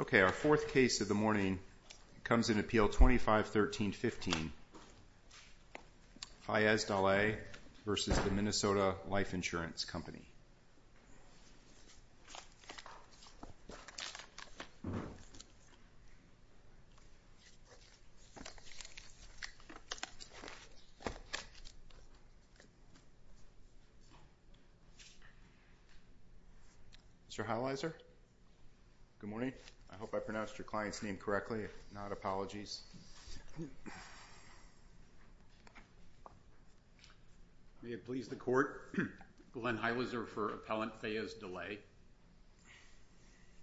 Okay, our fourth case of the morning comes in at P.L. 2513.15, Fayez Dahleh v. Minnesota Life Insurance Company. Mr. Halliser, good morning. I hope I pronounced your client's name correctly. Glenn Halliser for Appellant Fayez Dahleh.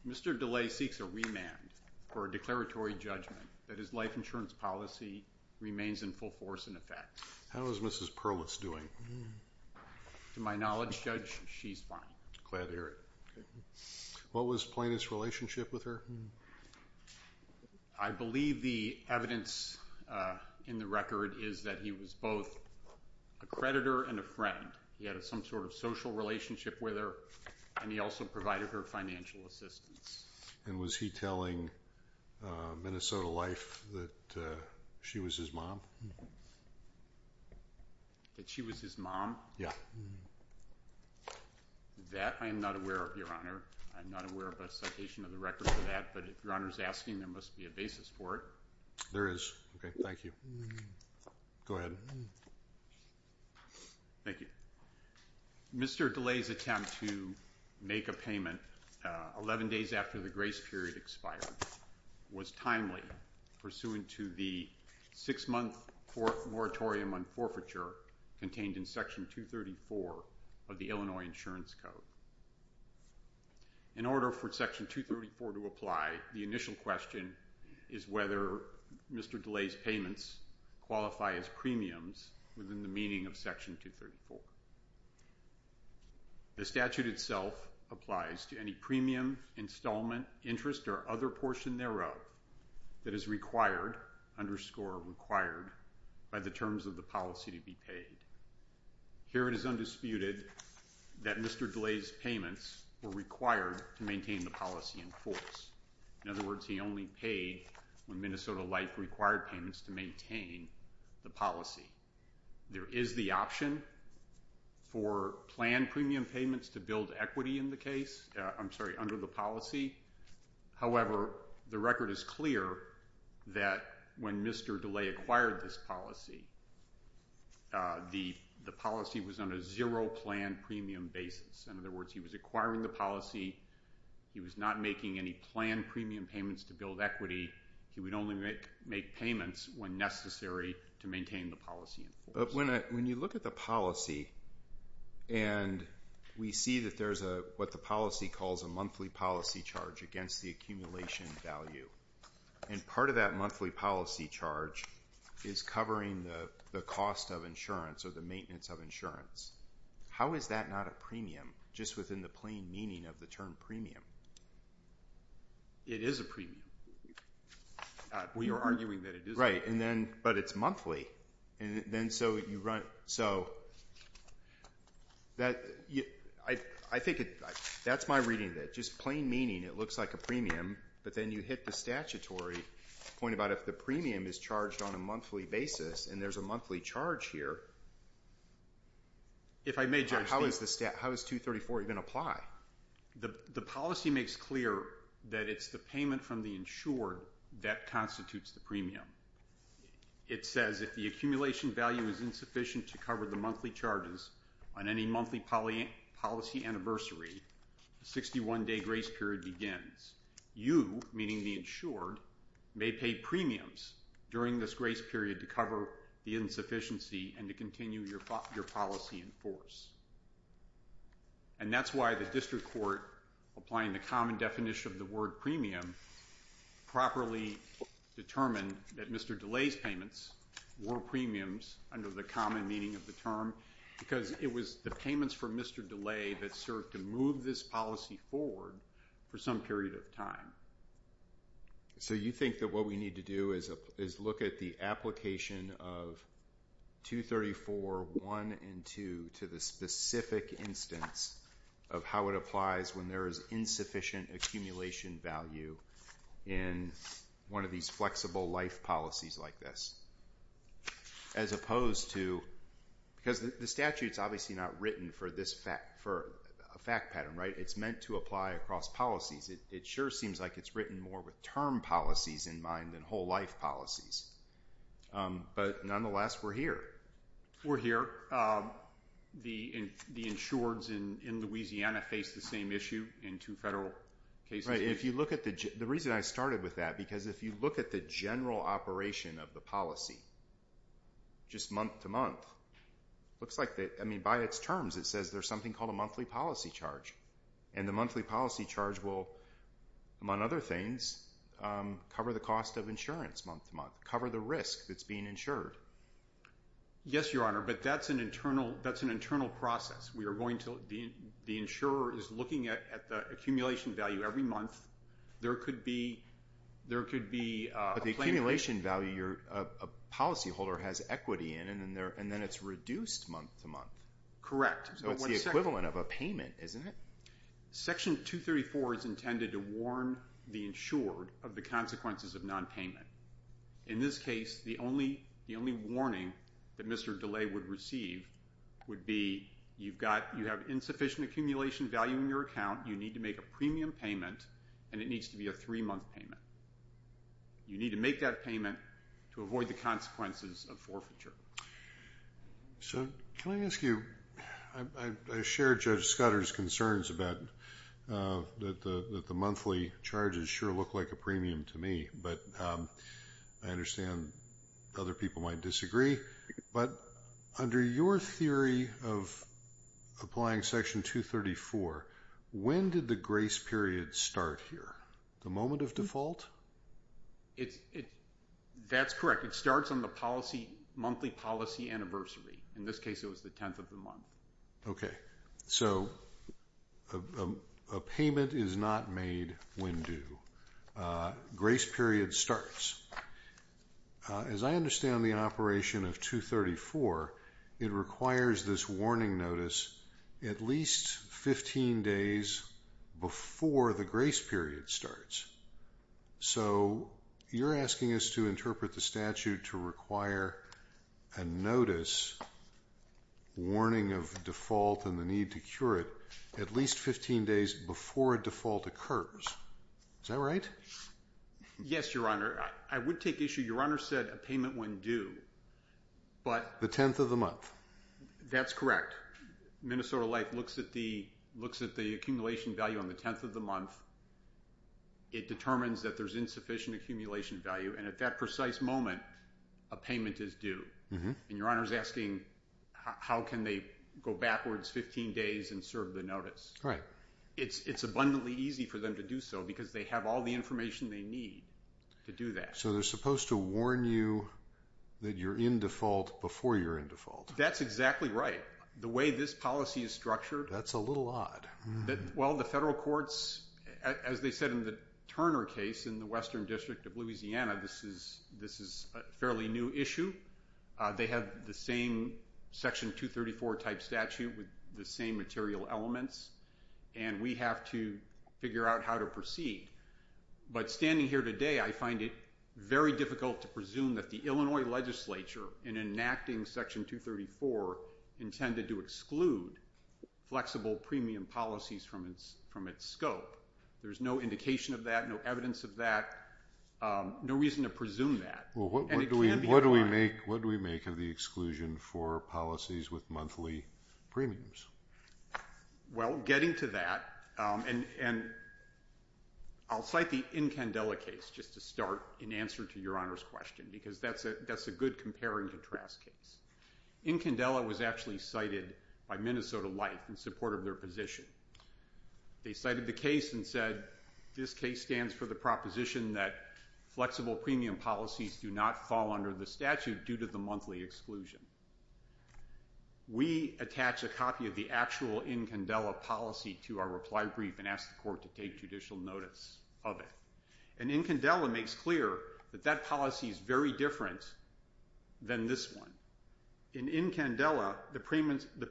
Mr. Dahleh seeks a remand for a declaratory judgment that his life insurance policy remains in full force in effect. How is Mrs. Perlitz doing? To my knowledge, Judge, she's fine. Glad to hear it. What was Plaintiff's relationship with her? I believe the evidence in the record is that he was both a creditor and a friend. He had some sort of social relationship with her, and he also provided her financial assistance. And was he telling Minnesota Life that she was his mom? That she was his mom? Yeah. That I am not aware of, Your Honor. I'm not aware of a citation of the record for that, but if Your Honor's asking, there must be a basis for it. There is. Thank you. Mr. Dahleh's attempt to make a payment 11 days after the grace period expired was timely, pursuant to the 6-month moratorium on forfeiture contained in Section 234 of the Illinois Insurance Code. In order for Section 234 to apply, the initial question is whether Mr. Dahleh's payments qualify as premiums within the meaning of Section 234. The statute itself applies to any premium, installment, interest, or other portion thereof that is required, underscore required, by the terms of the policy to be paid. Here it is undisputed that Mr. Dahleh's payments were required to maintain the policy in force. In other words, he only paid when Minnesota Life required payments to maintain the policy. There is the option for planned premium payments to build equity in the case, I'm sorry, under the policy. However, the record is clear that when Mr. Dahleh acquired this policy, the policy was on a zero planned premium basis. In other words, he was acquiring the policy, he was not making any planned premium payments to build equity, he would only make payments when necessary to maintain the policy in force. But when you look at the policy and we see that there's what the policy calls a monthly policy charge against the accumulation value, and part of that monthly policy charge is covering the cost of insurance or the maintenance of insurance. How is that not a premium just within the plain meaning of the term premium? It is a premium. We are arguing that it is a premium. But it's monthly. I think that's my reading of it. Just plain meaning, it looks like a premium, but then you hit the statutory point about if the premium is charged on a monthly basis and there's a monthly charge here, how is 234 even going to apply? The policy makes clear that it's the payment from the insured that constitutes the premium. It says if the accumulation value is insufficient to cover the monthly charges on any monthly policy anniversary, the 61-day grace period begins. You, meaning the insured, may pay premiums during this grace period to cover the insufficiency and to continue your policy in force. And that's why the district court, applying the common definition of the word premium, properly determined that Mr. DeLay's payments were premiums under the common meaning of the term because it was the payments from Mr. DeLay that served to move this policy forward for some period of time. So you think that what we need to do is look at the application of 234.1 and 2 to the specific instance of how it applies when there is insufficient accumulation value in one of these flexible life policies like this. As opposed to, because the statute's obviously not written for a fact pattern, right? It's meant to apply across policies. It sure seems like it's written more with term policies in mind than whole life policies. But nonetheless, we're here. We're here. The insureds in Louisiana face the same issue in two federal cases. If you look at the, the reason I started with that, because if you look at the general operation of the policy, just month to month, looks like, I mean, by its terms it says there's something called a monthly policy charge. And the monthly policy charge will, among other things, cover the cost of insurance month to month, cover the risk that's being insured. Yes, Your Honor, but that's an internal process. We are going to, the insurer is looking at the accumulation value every month. There could be, there could be a planar issue. But the accumulation value, a policyholder has equity in it and then it's reduced month to month. Correct. So it's the equivalent of a payment, isn't it? Section 234 is intended to warn the insured of the consequences of nonpayment. In this case, the only, the only warning that Mr. DeLay would receive would be, you've got, you have insufficient accumulation value in your account. You need to make a premium payment and it needs to be a three month payment. You need to make that payment to avoid the consequences of forfeiture. So, can I ask you, I share Judge Scudder's concerns about, that the monthly charges sure look like a premium to me, but I understand other people might disagree. But under your theory of applying Section 234, when did the grace period start here? The moment of default? It's, it, that's correct. It starts on the policy, monthly policy anniversary. In this case it was the 10th of the month. Okay. So, a payment is not made when due. Grace period starts. As I understand the operation of 234, it requires this warning notice at least 15 days before the grace period starts. So, you're asking us to interpret the statute to require a notice, warning of default and the need to cure it, at least 15 days before a default occurs. Is that right? Yes, Your Honor. I would take issue, Your Honor said a payment when due, but... The 10th of the month. That's correct. Minnesota Life looks at the, looks at the accumulation value on the 10th of the month. It determines that there's insufficient accumulation value. And at that precise moment, a payment is due. And Your Honor's asking, how can they go backwards 15 days and serve the notice? Right. It's abundantly easy for them to do so because they have all the information they need to do that. So, they're supposed to warn you that you're in default before you're in default. That's exactly right. The way this policy is structured... That's a little odd. Well, the federal courts, as they said in the Turner case in the Western District of Louisiana, this is, this is a fairly new issue. They have the same Section 234 type statute with the same material elements. And we have to figure out how to proceed. But standing here today, I find it very difficult to presume that the Illinois legislature, in enacting Section 234, intended to exclude flexible premium policies from its scope. There's no indication of that, no evidence of that, no reason to presume that. Well, what do we, what do we make, what do we make of the exclusion for policies with monthly premiums? Well, getting to that, and, and I'll cite the Incandela case just to start in answer to Your Honor's question, because that's a, that's a good compare and contrast case. Incandela was actually cited by Minnesota Life in support of their position. They cited the case and said, this case stands for the proposition that flexible premium policies do not fall under the statute due to the monthly exclusion. We attach a copy of the actual Incandela policy to our reply brief and ask the court to take judicial notice of it. And Incandela makes clear that that policy is very different than this one. In Incandela, the payments, the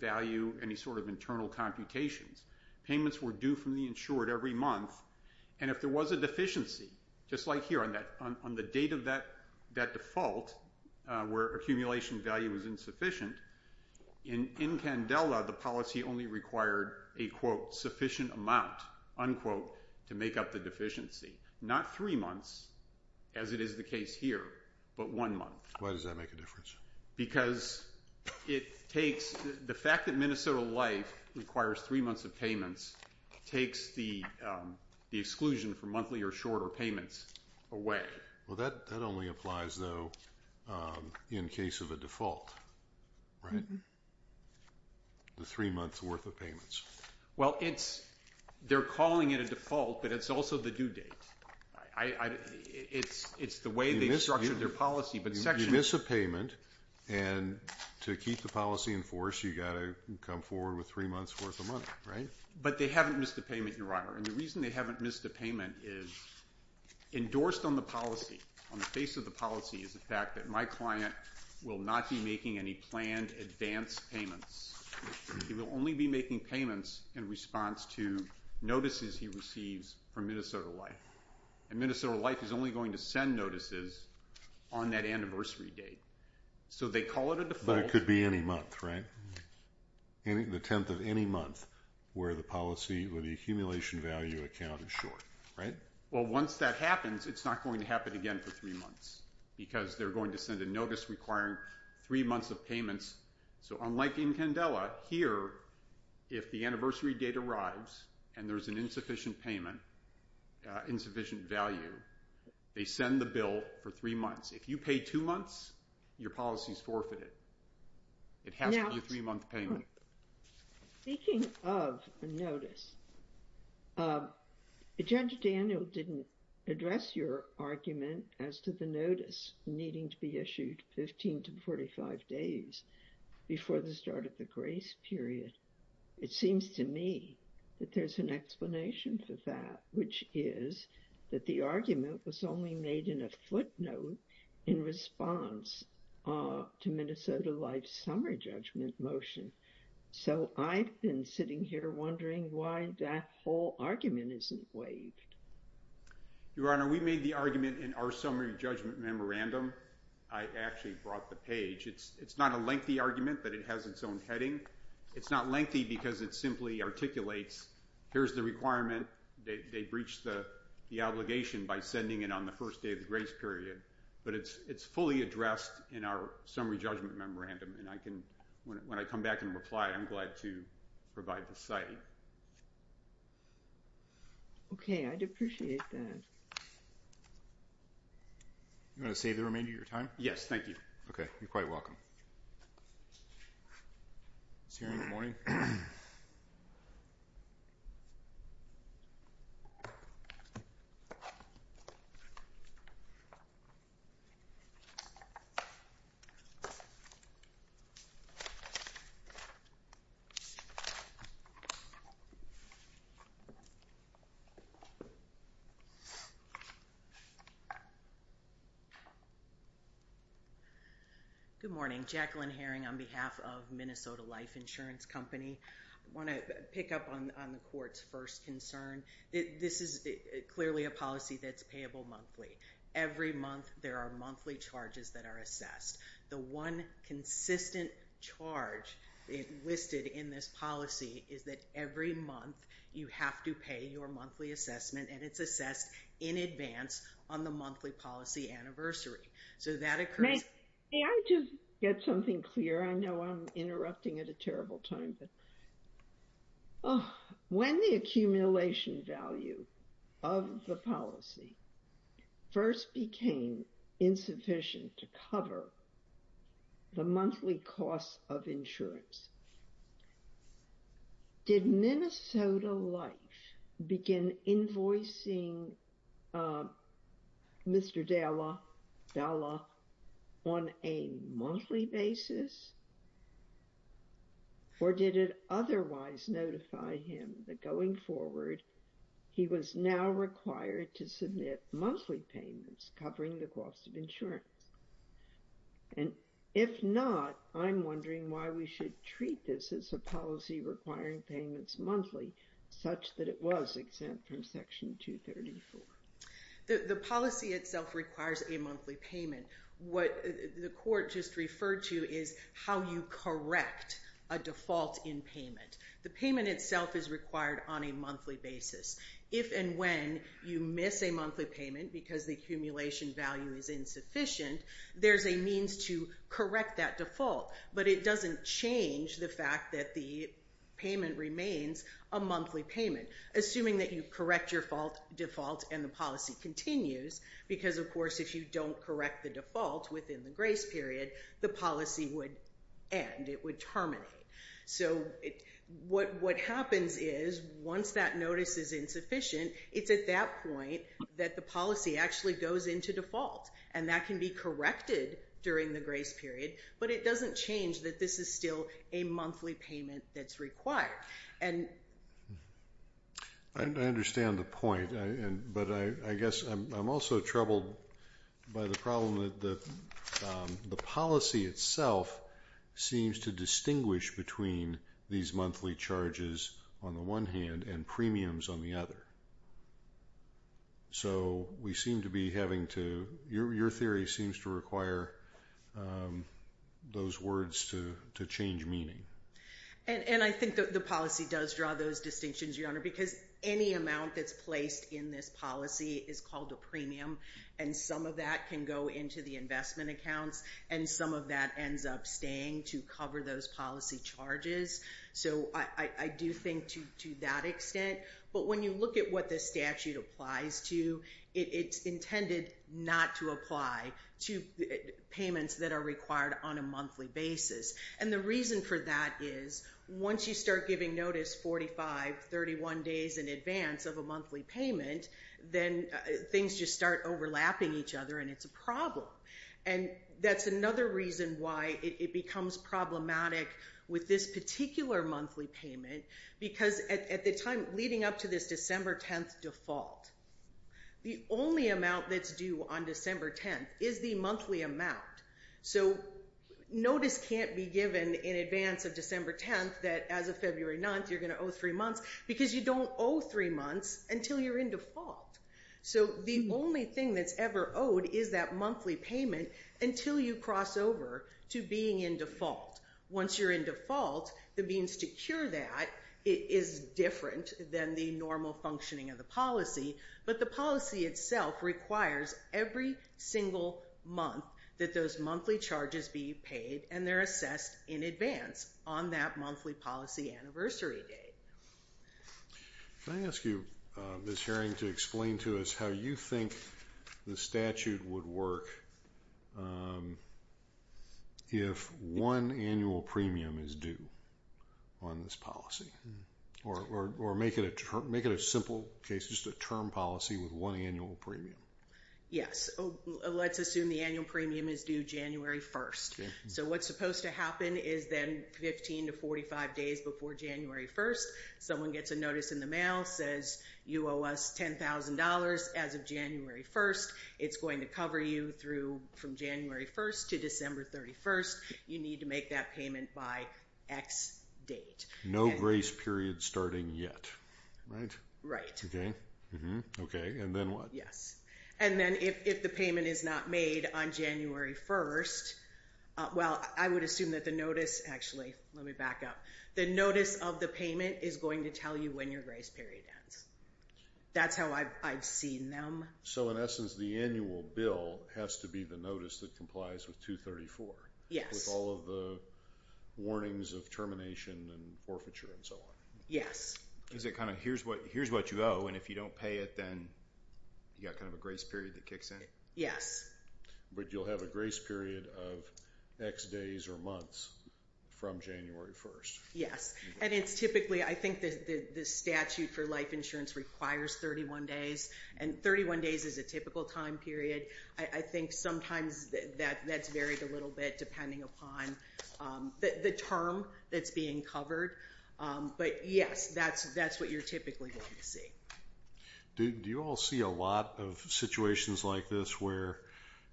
value, any sort of internal computations, payments were due from the insured every month. And if there was a deficiency, just like here on that, on the date of that, that default, where accumulation value is insufficient, in, in Candela, the policy only required a quote, sufficient amount, unquote, to make up the deficiency. Not three months, as it is the case here, but one month. Why does that make a difference? Because it takes, the fact that Minnesota Life requires three months of payments, takes the, the exclusion for monthly or shorter payments away. Well, that, that only applies, though, in case of a default, right? The three months worth of payments. Well, it's, they're calling it a default, but it's also the due date. I, I, it's, it's the way they structured their policy, but section... If you miss a payment, and to keep the policy in force, you gotta come forward with three months worth of money, right? But they haven't missed a payment, Your Honor, and the reason they haven't missed a payment is endorsed on the policy, on the face of the policy, is the fact that my client will not be making any planned advance payments. He will only be making payments in response to notices he receives from Minnesota Life. And Minnesota Life is only going to send notices on that anniversary date. So they call it a default... But it could be any month, right? Any, the tenth of any month where the policy, where the accumulation value account is short, right? Well once that happens, it's not going to happen again for three months, because they're going to send a notice requiring three months of payments. So unlike in Candela, here, if the anniversary date arrives, and there's an insufficient payment, insufficient value, they send the bill for three months. If you pay two months, your policy's forfeited. It has to be a three-month payment. Now, speaking of a notice, Judge Daniel didn't address your argument as to the notice needing to be issued 15 to 45 days before the start of the grace period. It seems to me that there's an explanation for that, which is that the argument was only made in a footnote in response to Minnesota Life's summer judgment motion. So I've been sitting here wondering why that whole argument isn't waived. Your Honor, we made the argument in our summer judgment memorandum. I actually brought the page. It's not a lengthy argument, but it has its own heading. It's not lengthy because it simply articulates, here's the requirement. They breached the obligation by sending it on the first day of the grace period. But it's fully addressed in our summer judgment memorandum, and I can, when I come back and reply, I'm glad to provide the site. Okay, I'd appreciate that. You want to save the remainder of your time? Yes, thank you. Okay, you're quite welcome. Is he hearing the morning? Good morning. Jacqueline Herring on behalf of Minnesota Life Insurance Company. I'd like to pick up on the court's first concern. This is clearly a policy that's payable monthly. Every month there are monthly charges that are assessed. The one consistent charge listed in this policy is that every month you have to pay your monthly assessment, and it's assessed in advance on the monthly policy anniversary. So that occurs... May I just get something clear? I know I'm interrupting at a terrible time, but when the accumulation value of the policy first became insufficient to cover the monthly costs of insurance, did Minnesota Life begin invoicing Mr. Dalla on a monthly basis, or did it otherwise notify him that going forward he was now required to submit monthly payments covering the cost of insurance? And if not, I'm wondering why we should treat this as a policy requiring payments monthly, such that it was exempt from Section 234. The policy itself requires a monthly payment. What the court just referred to is how you correct a default in payment. The payment itself is required on a monthly basis. If and when you miss a monthly payment because the accumulation value is insufficient, there's a means to correct that default, but it doesn't change the fact that the payment remains a monthly payment. Assuming that you correct your default and the policy continues, because of course if you don't correct the default within the grace period, the policy would end. It would that the policy actually goes into default, and that can be corrected during the grace period, but it doesn't change that this is still a monthly payment that's required. I understand the point, but I guess I'm also troubled by the problem that the policy itself seems to distinguish between these monthly charges on the one hand and premiums on the other. So we seem to be having to, your theory seems to require those words to change meaning. And I think that the policy does draw those distinctions, Your Honor, because any amount that's placed in this policy is called a premium, and some of that can go into the investment accounts, and some of that ends up staying to cover those policy charges. So I do think to that extent, but when you look at what this statute applies to, it's intended not to apply to payments that are required on a monthly basis. And the reason for that is once you start giving notice 45, 31 days in advance of a monthly payment, then things just start overlapping each other, and it's a problem. And that's another reason why it becomes problematic with this particular monthly payment, because at the time leading up to this December 10th default, the only amount that's due on December 10th is the monthly amount. So notice can't be given in advance of December 10th that as of February 9th, you're going to owe three months, because you don't owe three months until you're in default. The only thing that's ever owed is that monthly payment until you cross over to being in default. Once you're in default, the means to cure that is different than the normal functioning of the policy, but the policy itself requires every single month that those monthly charges be paid, and they're assessed in advance on that monthly policy anniversary date. Can I ask you, Ms. Herring, to explain to us how you think the statute would work if one annual premium is due on this policy? Or make it a simple case, just a term policy with one annual premium? Yes. Let's assume the annual premium is due January 1st. So what's supposed to happen is then 15 to 45 days before January 1st, someone gets a notice in the mail that says you owe us $10,000 as of January 1st. It's going to cover you from January 1st to December 31st. You need to make that payment by X date. No grace period starting yet, right? Right. Okay. And then what? Yes. And then if the payment is not made on January 1st, well, I would assume that the notice, actually, let me back up, the notice of the payment is going to tell you when your grace period ends. That's how I've seen them. So in essence, the annual bill has to be the notice that complies with 234? Yes. With all of the warnings of termination and forfeiture and so on? Yes. Is it kind of, here's what you owe, and if you don't pay it, then you've got kind of a grace period that kicks in? Yes. But you'll have a grace period of X days or months from January 1st. Yes. And it's typically, I think the statute for life insurance requires 31 days, and 31 days is a typical time period. I think sometimes that's varied a little bit depending upon the term that's being covered. But yes, that's what you're typically going to see. Do you all see a lot of situations like this where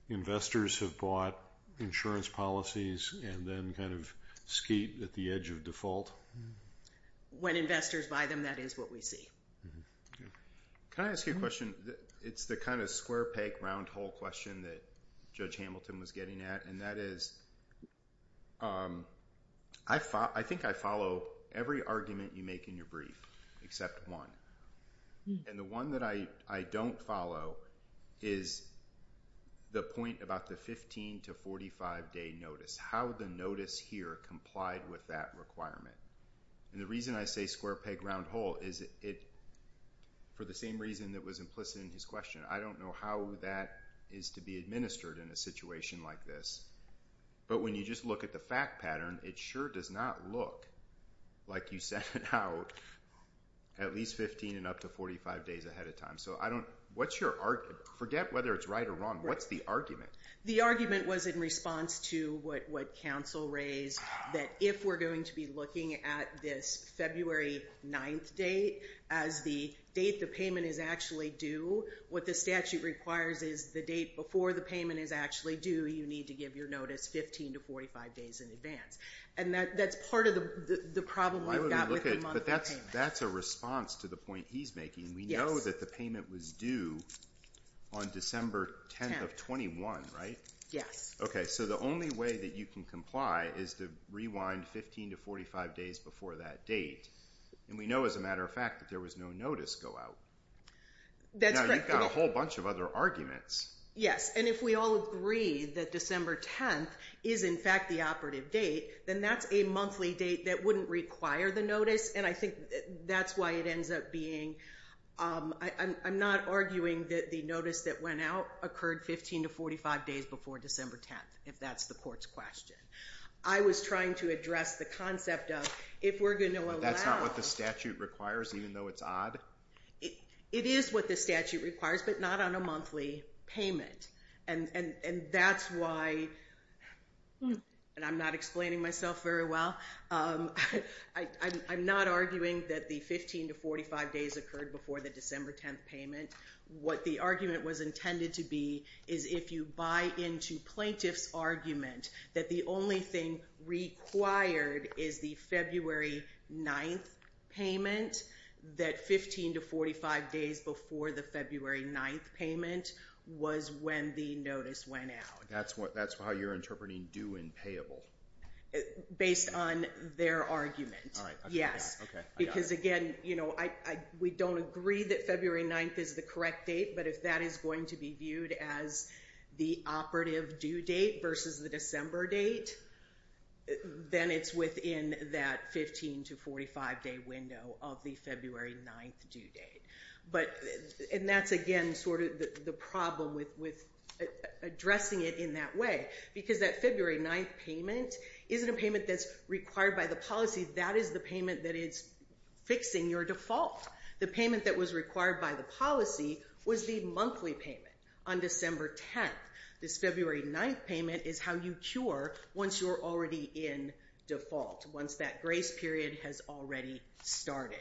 investors have bought insurance policies and then kind of skeet at the edge of default? When investors buy them, that is what we see. Can I ask you a question? It's the kind of square peg, round hole question that Judge I think I follow every argument you make in your brief except one. And the one that I don't follow is the point about the 15 to 45 day notice, how the notice here complied with that requirement. And the reason I say square peg, round hole is for the same reason that was implicit in his question. I don't know how that is to be administered in a situation like this. But when you just look at the fact pattern, it sure does not look like you set it out at least 15 and up to 45 days ahead of time. Forget whether it's right or wrong. What's the argument? The argument was in response to what counsel raised, that if we're going to be looking at this February 9th date as the date the payment is actually due, what the statute requires is the date before the payment is actually due, you need to give your notice 15 to 45 days in advance. And that's part of the problem I've got with the monthly payment. But that's a response to the point he's making. We know that the payment was due on December 10th of 21, right? Yes. Okay, so the only way that you can comply is to rewind 15 to 45 days before that date. And we know as a matter of fact that there was no notice go out. That's correct. But you've got a whole bunch of other arguments. Yes, and if we all agree that December 10th is in fact the operative date, then that's a monthly date that wouldn't require the notice. And I think that's why it ends up being... I'm not arguing that the notice that went out occurred 15 to 45 days before December 10th, if that's the court's question. I was trying to address the concept of if we're going to allow... That's not what the statute requires, even though it's odd? It is what the statute requires, but not on a monthly payment. And that's why, and I'm not explaining myself very well, I'm not arguing that the 15 to 45 days occurred before the December 10th payment. What the argument was intended to be is if you buy into plaintiff's argument that the only thing required is the February 9th payment, that 15 to 45 days before the February 9th payment was when the notice went out. That's how you're interpreting due and payable? Based on their argument, yes. Okay, I got it. Because again, we don't agree that February 9th is the correct date, but if that is going to be viewed as the operative due date versus the December date, then it's within that 15 to 45 day window of the February 9th due date. And that's again sort of the problem with addressing it in that way, because that February 9th payment isn't a payment that's required by the policy, that is the payment that is fixing your default. The payment that was a monthly payment on December 10th, this February 9th payment is how you cure once you're already in default, once that grace period has already started.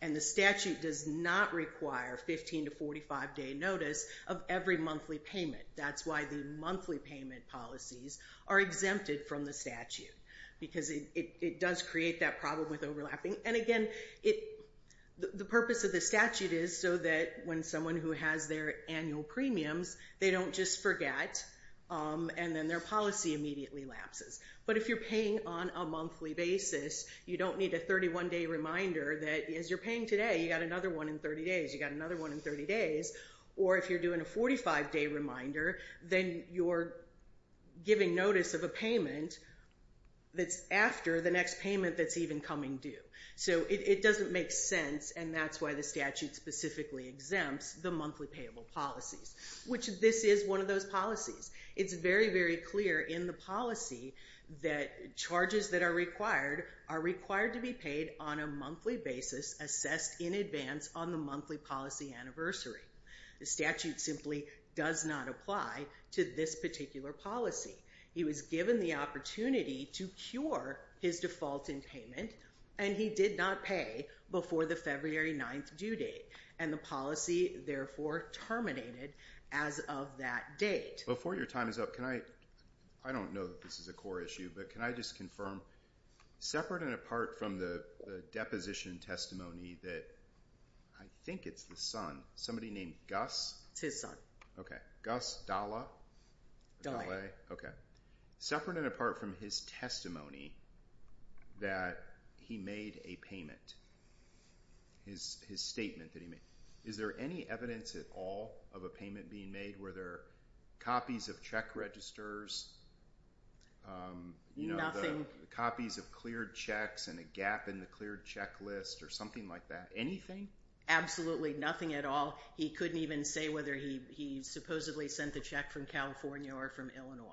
And the statute does not require 15 to 45 day notice of every monthly payment. That's why the monthly payment policies are exempted from the statute, because it does create that problem with overlapping. And again, the purpose of the statute is so that when someone who has their annual premiums, they don't just forget and then their policy immediately lapses. But if you're paying on a monthly basis, you don't need a 31 day reminder that as you're paying today, you got another one in 30 days, you got another one in 30 days. Or if you're doing a 45 day reminder, then you're giving notice of a payment that's after the next payment that's even coming due. So it doesn't make sense, and that's why the statute specifically exempts the monthly payable policies, which this is one of those policies. It's very, very clear in the policy that charges that are required are required to be paid on a monthly basis assessed in advance on the monthly policy anniversary. The statute simply does not apply to this particular policy. He was given the opportunity to cure his default in payment, and he did not pay before the February 9th due date. And the policy, therefore, terminated as of that date. Before your time is up, I don't know that this is a core issue, but can I just confirm, separate and apart from the deposition testimony that I think it's the son, somebody named Gus? It's his son. Okay. Gus Dalla? Dalla. Okay. Separate and apart from his testimony that he made a payment, his statement that he made, is there any evidence at all of a payment being made? Were there copies of check registers? Nothing. Copies of cleared checks and a gap in the cleared checklist or something like that? Anything? Absolutely nothing at all. He couldn't even say whether he supposedly sent the check from California or from Illinois.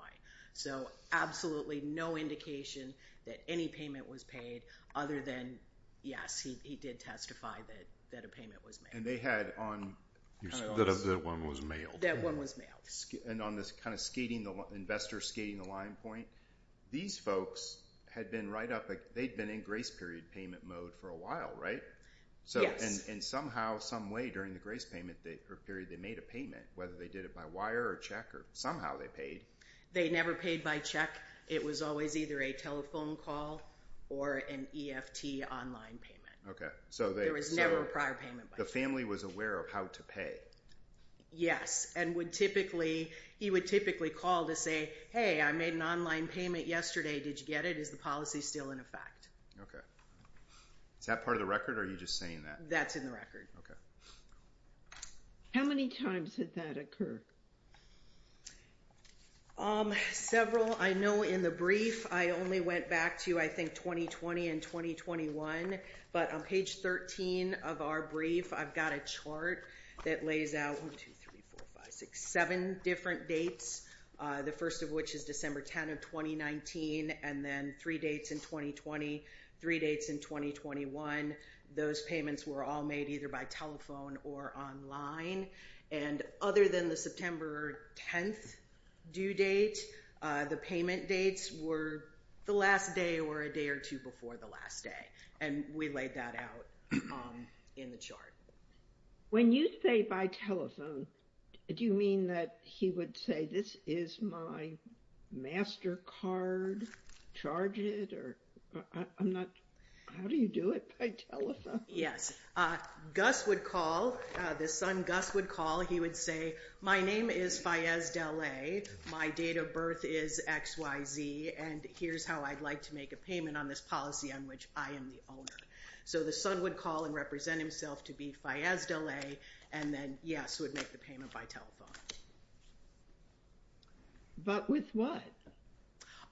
So absolutely no indication that any payment was paid other than, yes, he did testify that a payment was made. And they had on... That one was mailed. That one was mailed. And on this kind of skating, investor skating the line point, these folks had been right up, they'd been in grace period payment mode for a while, right? Yes. And somehow, some way during the grace period, they made a payment, whether they did it by wire or check or somehow they paid. They never paid by check. It was always either a telephone call or an EFT online payment. Okay. There was never a prior payment. The family was aware of how to pay? Yes. And he would typically call to say, hey, I made an online payment yesterday. Did you get it? Is the policy still in effect? Okay. Is that part of the record or are you just saying that? That's in the record. Okay. How many times did that occur? Several. I know in the brief, I only went back to, I think, 2020 and 2021. But on page 13 of our brief, I've got a chart that lays out 1, 2, 3, 4, 5, 6, 7 different dates. The first of which is December 10 of 2019 and then three dates in 2020, three dates in 2021. Those payments were all made either by telephone or online. And other than the September 10th due date, the payment dates were the last day or a day or two before the last day. And we laid that out in the chart. When you say by telephone, do you mean that he would say, this is my MasterCard, charge it? Or I'm not, how do you do it by telephone? Yes. Gus would call, the son Gus would call. He would say, my name is Faiyaz Dele. My date of birth is XYZ. And here's how I'd like to make a payment on this policy on which I am the owner. So the son would call and represent himself to be Faiyaz Dele. And then yes, would make the payment by telephone. But with what?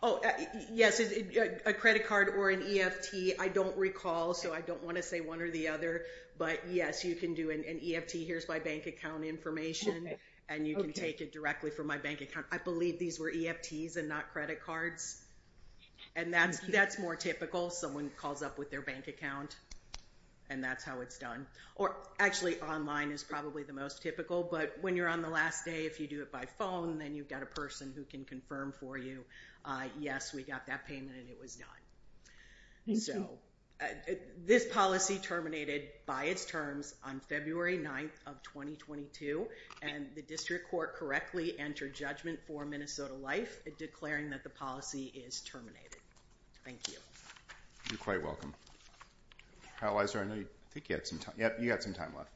Oh, yes. A credit card or an EFT. I don't recall. So I don't want to say one or the other. But yes, you can do an EFT. Here's my bank account information. And you can take it directly from my bank account. I believe these were EFTs and not credit cards. And that's more typical. Someone calls up with their bank account and that's how it's done. Or actually, online is probably the most typical. But when you're on the last day, if you do it by phone, then you've got a person who can confirm for you, yes, we got that payment and it was done. Thank you. So this policy terminated by its terms on February 9th of 2022. And the district court correctly entered judgment for Minnesota Life, declaring that the policy is terminated. Thank you. You're quite welcome. I think you had some time left.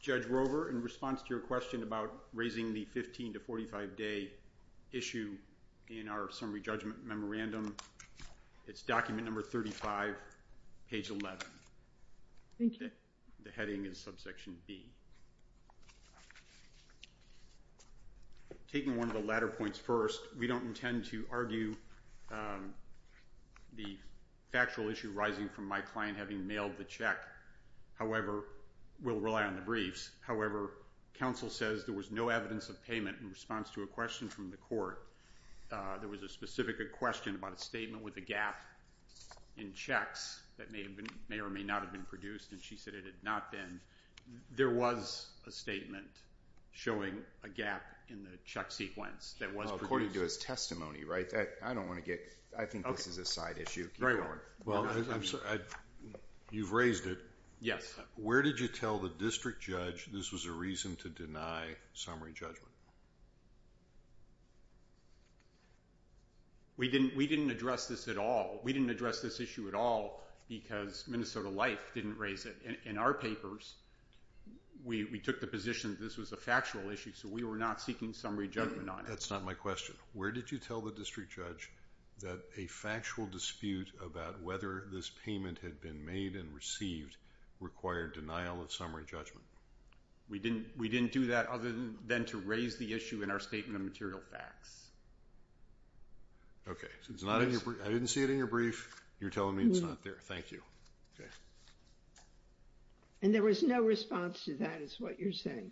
Judge Rover, in response to your question about raising the 15 to 45 day issue in our summary judgment memorandum, it's document number 35, page 11. Thank you. The heading is subsection B. Taking one of the latter points first, we don't intend to argue the factual issue rising from my client having mailed the check. However, we'll rely on the briefs. However, counsel says there was no evidence of payment in response to a question from the court. There was a specific question about a statement with a gap in checks that may or may not have been produced. And she said it had not been. There was a statement showing a gap in the check sequence that was produced. Well, according to his testimony, right? I don't want to get... I think this is a side issue. Well, you've raised it. Yes. Where did you tell the district judge this was a reason to deny summary judgment? We didn't address this at all. We didn't address this issue at all because Minnesota Life didn't raise it. In our papers, we took the position this was a factual issue, so we were not seeking summary judgment on it. That's not my question. Where did you tell the district judge that a factual dispute about whether this payment had been made and received required denial of summary judgment? We didn't do that other than to raise the issue in our statement of material facts. Okay. I didn't see it in your brief. You're telling me it's not there. Thank you. And there was no response to that is what you're saying.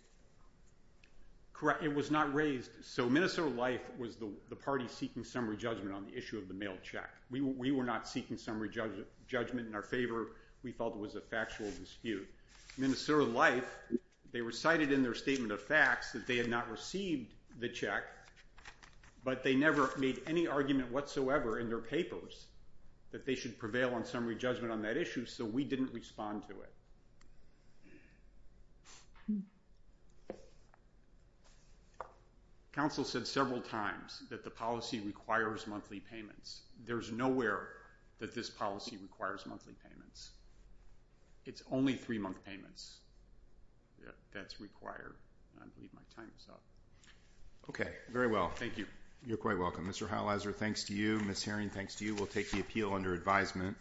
Correct. It was not raised. So Minnesota Life was the party seeking summary judgment on the issue of the mail check. We were not seeking summary judgment in our favor. We felt it was a factual dispute. Minnesota Life, they recited in their statement of facts that they had not received the check, but they never made any argument whatsoever in their papers that they should prevail on summary judgment on that issue, so we didn't respond to it. Okay. Counsel said several times that the policy requires monthly payments. There's nowhere that this policy requires monthly payments. It's only three-month payments that's required. I believe my time is up. Okay. Very well. Thank you. You're quite welcome. Mr. Heilizer, thanks to you. Ms. Herring, thanks to you. We'll take the appeal under advisement.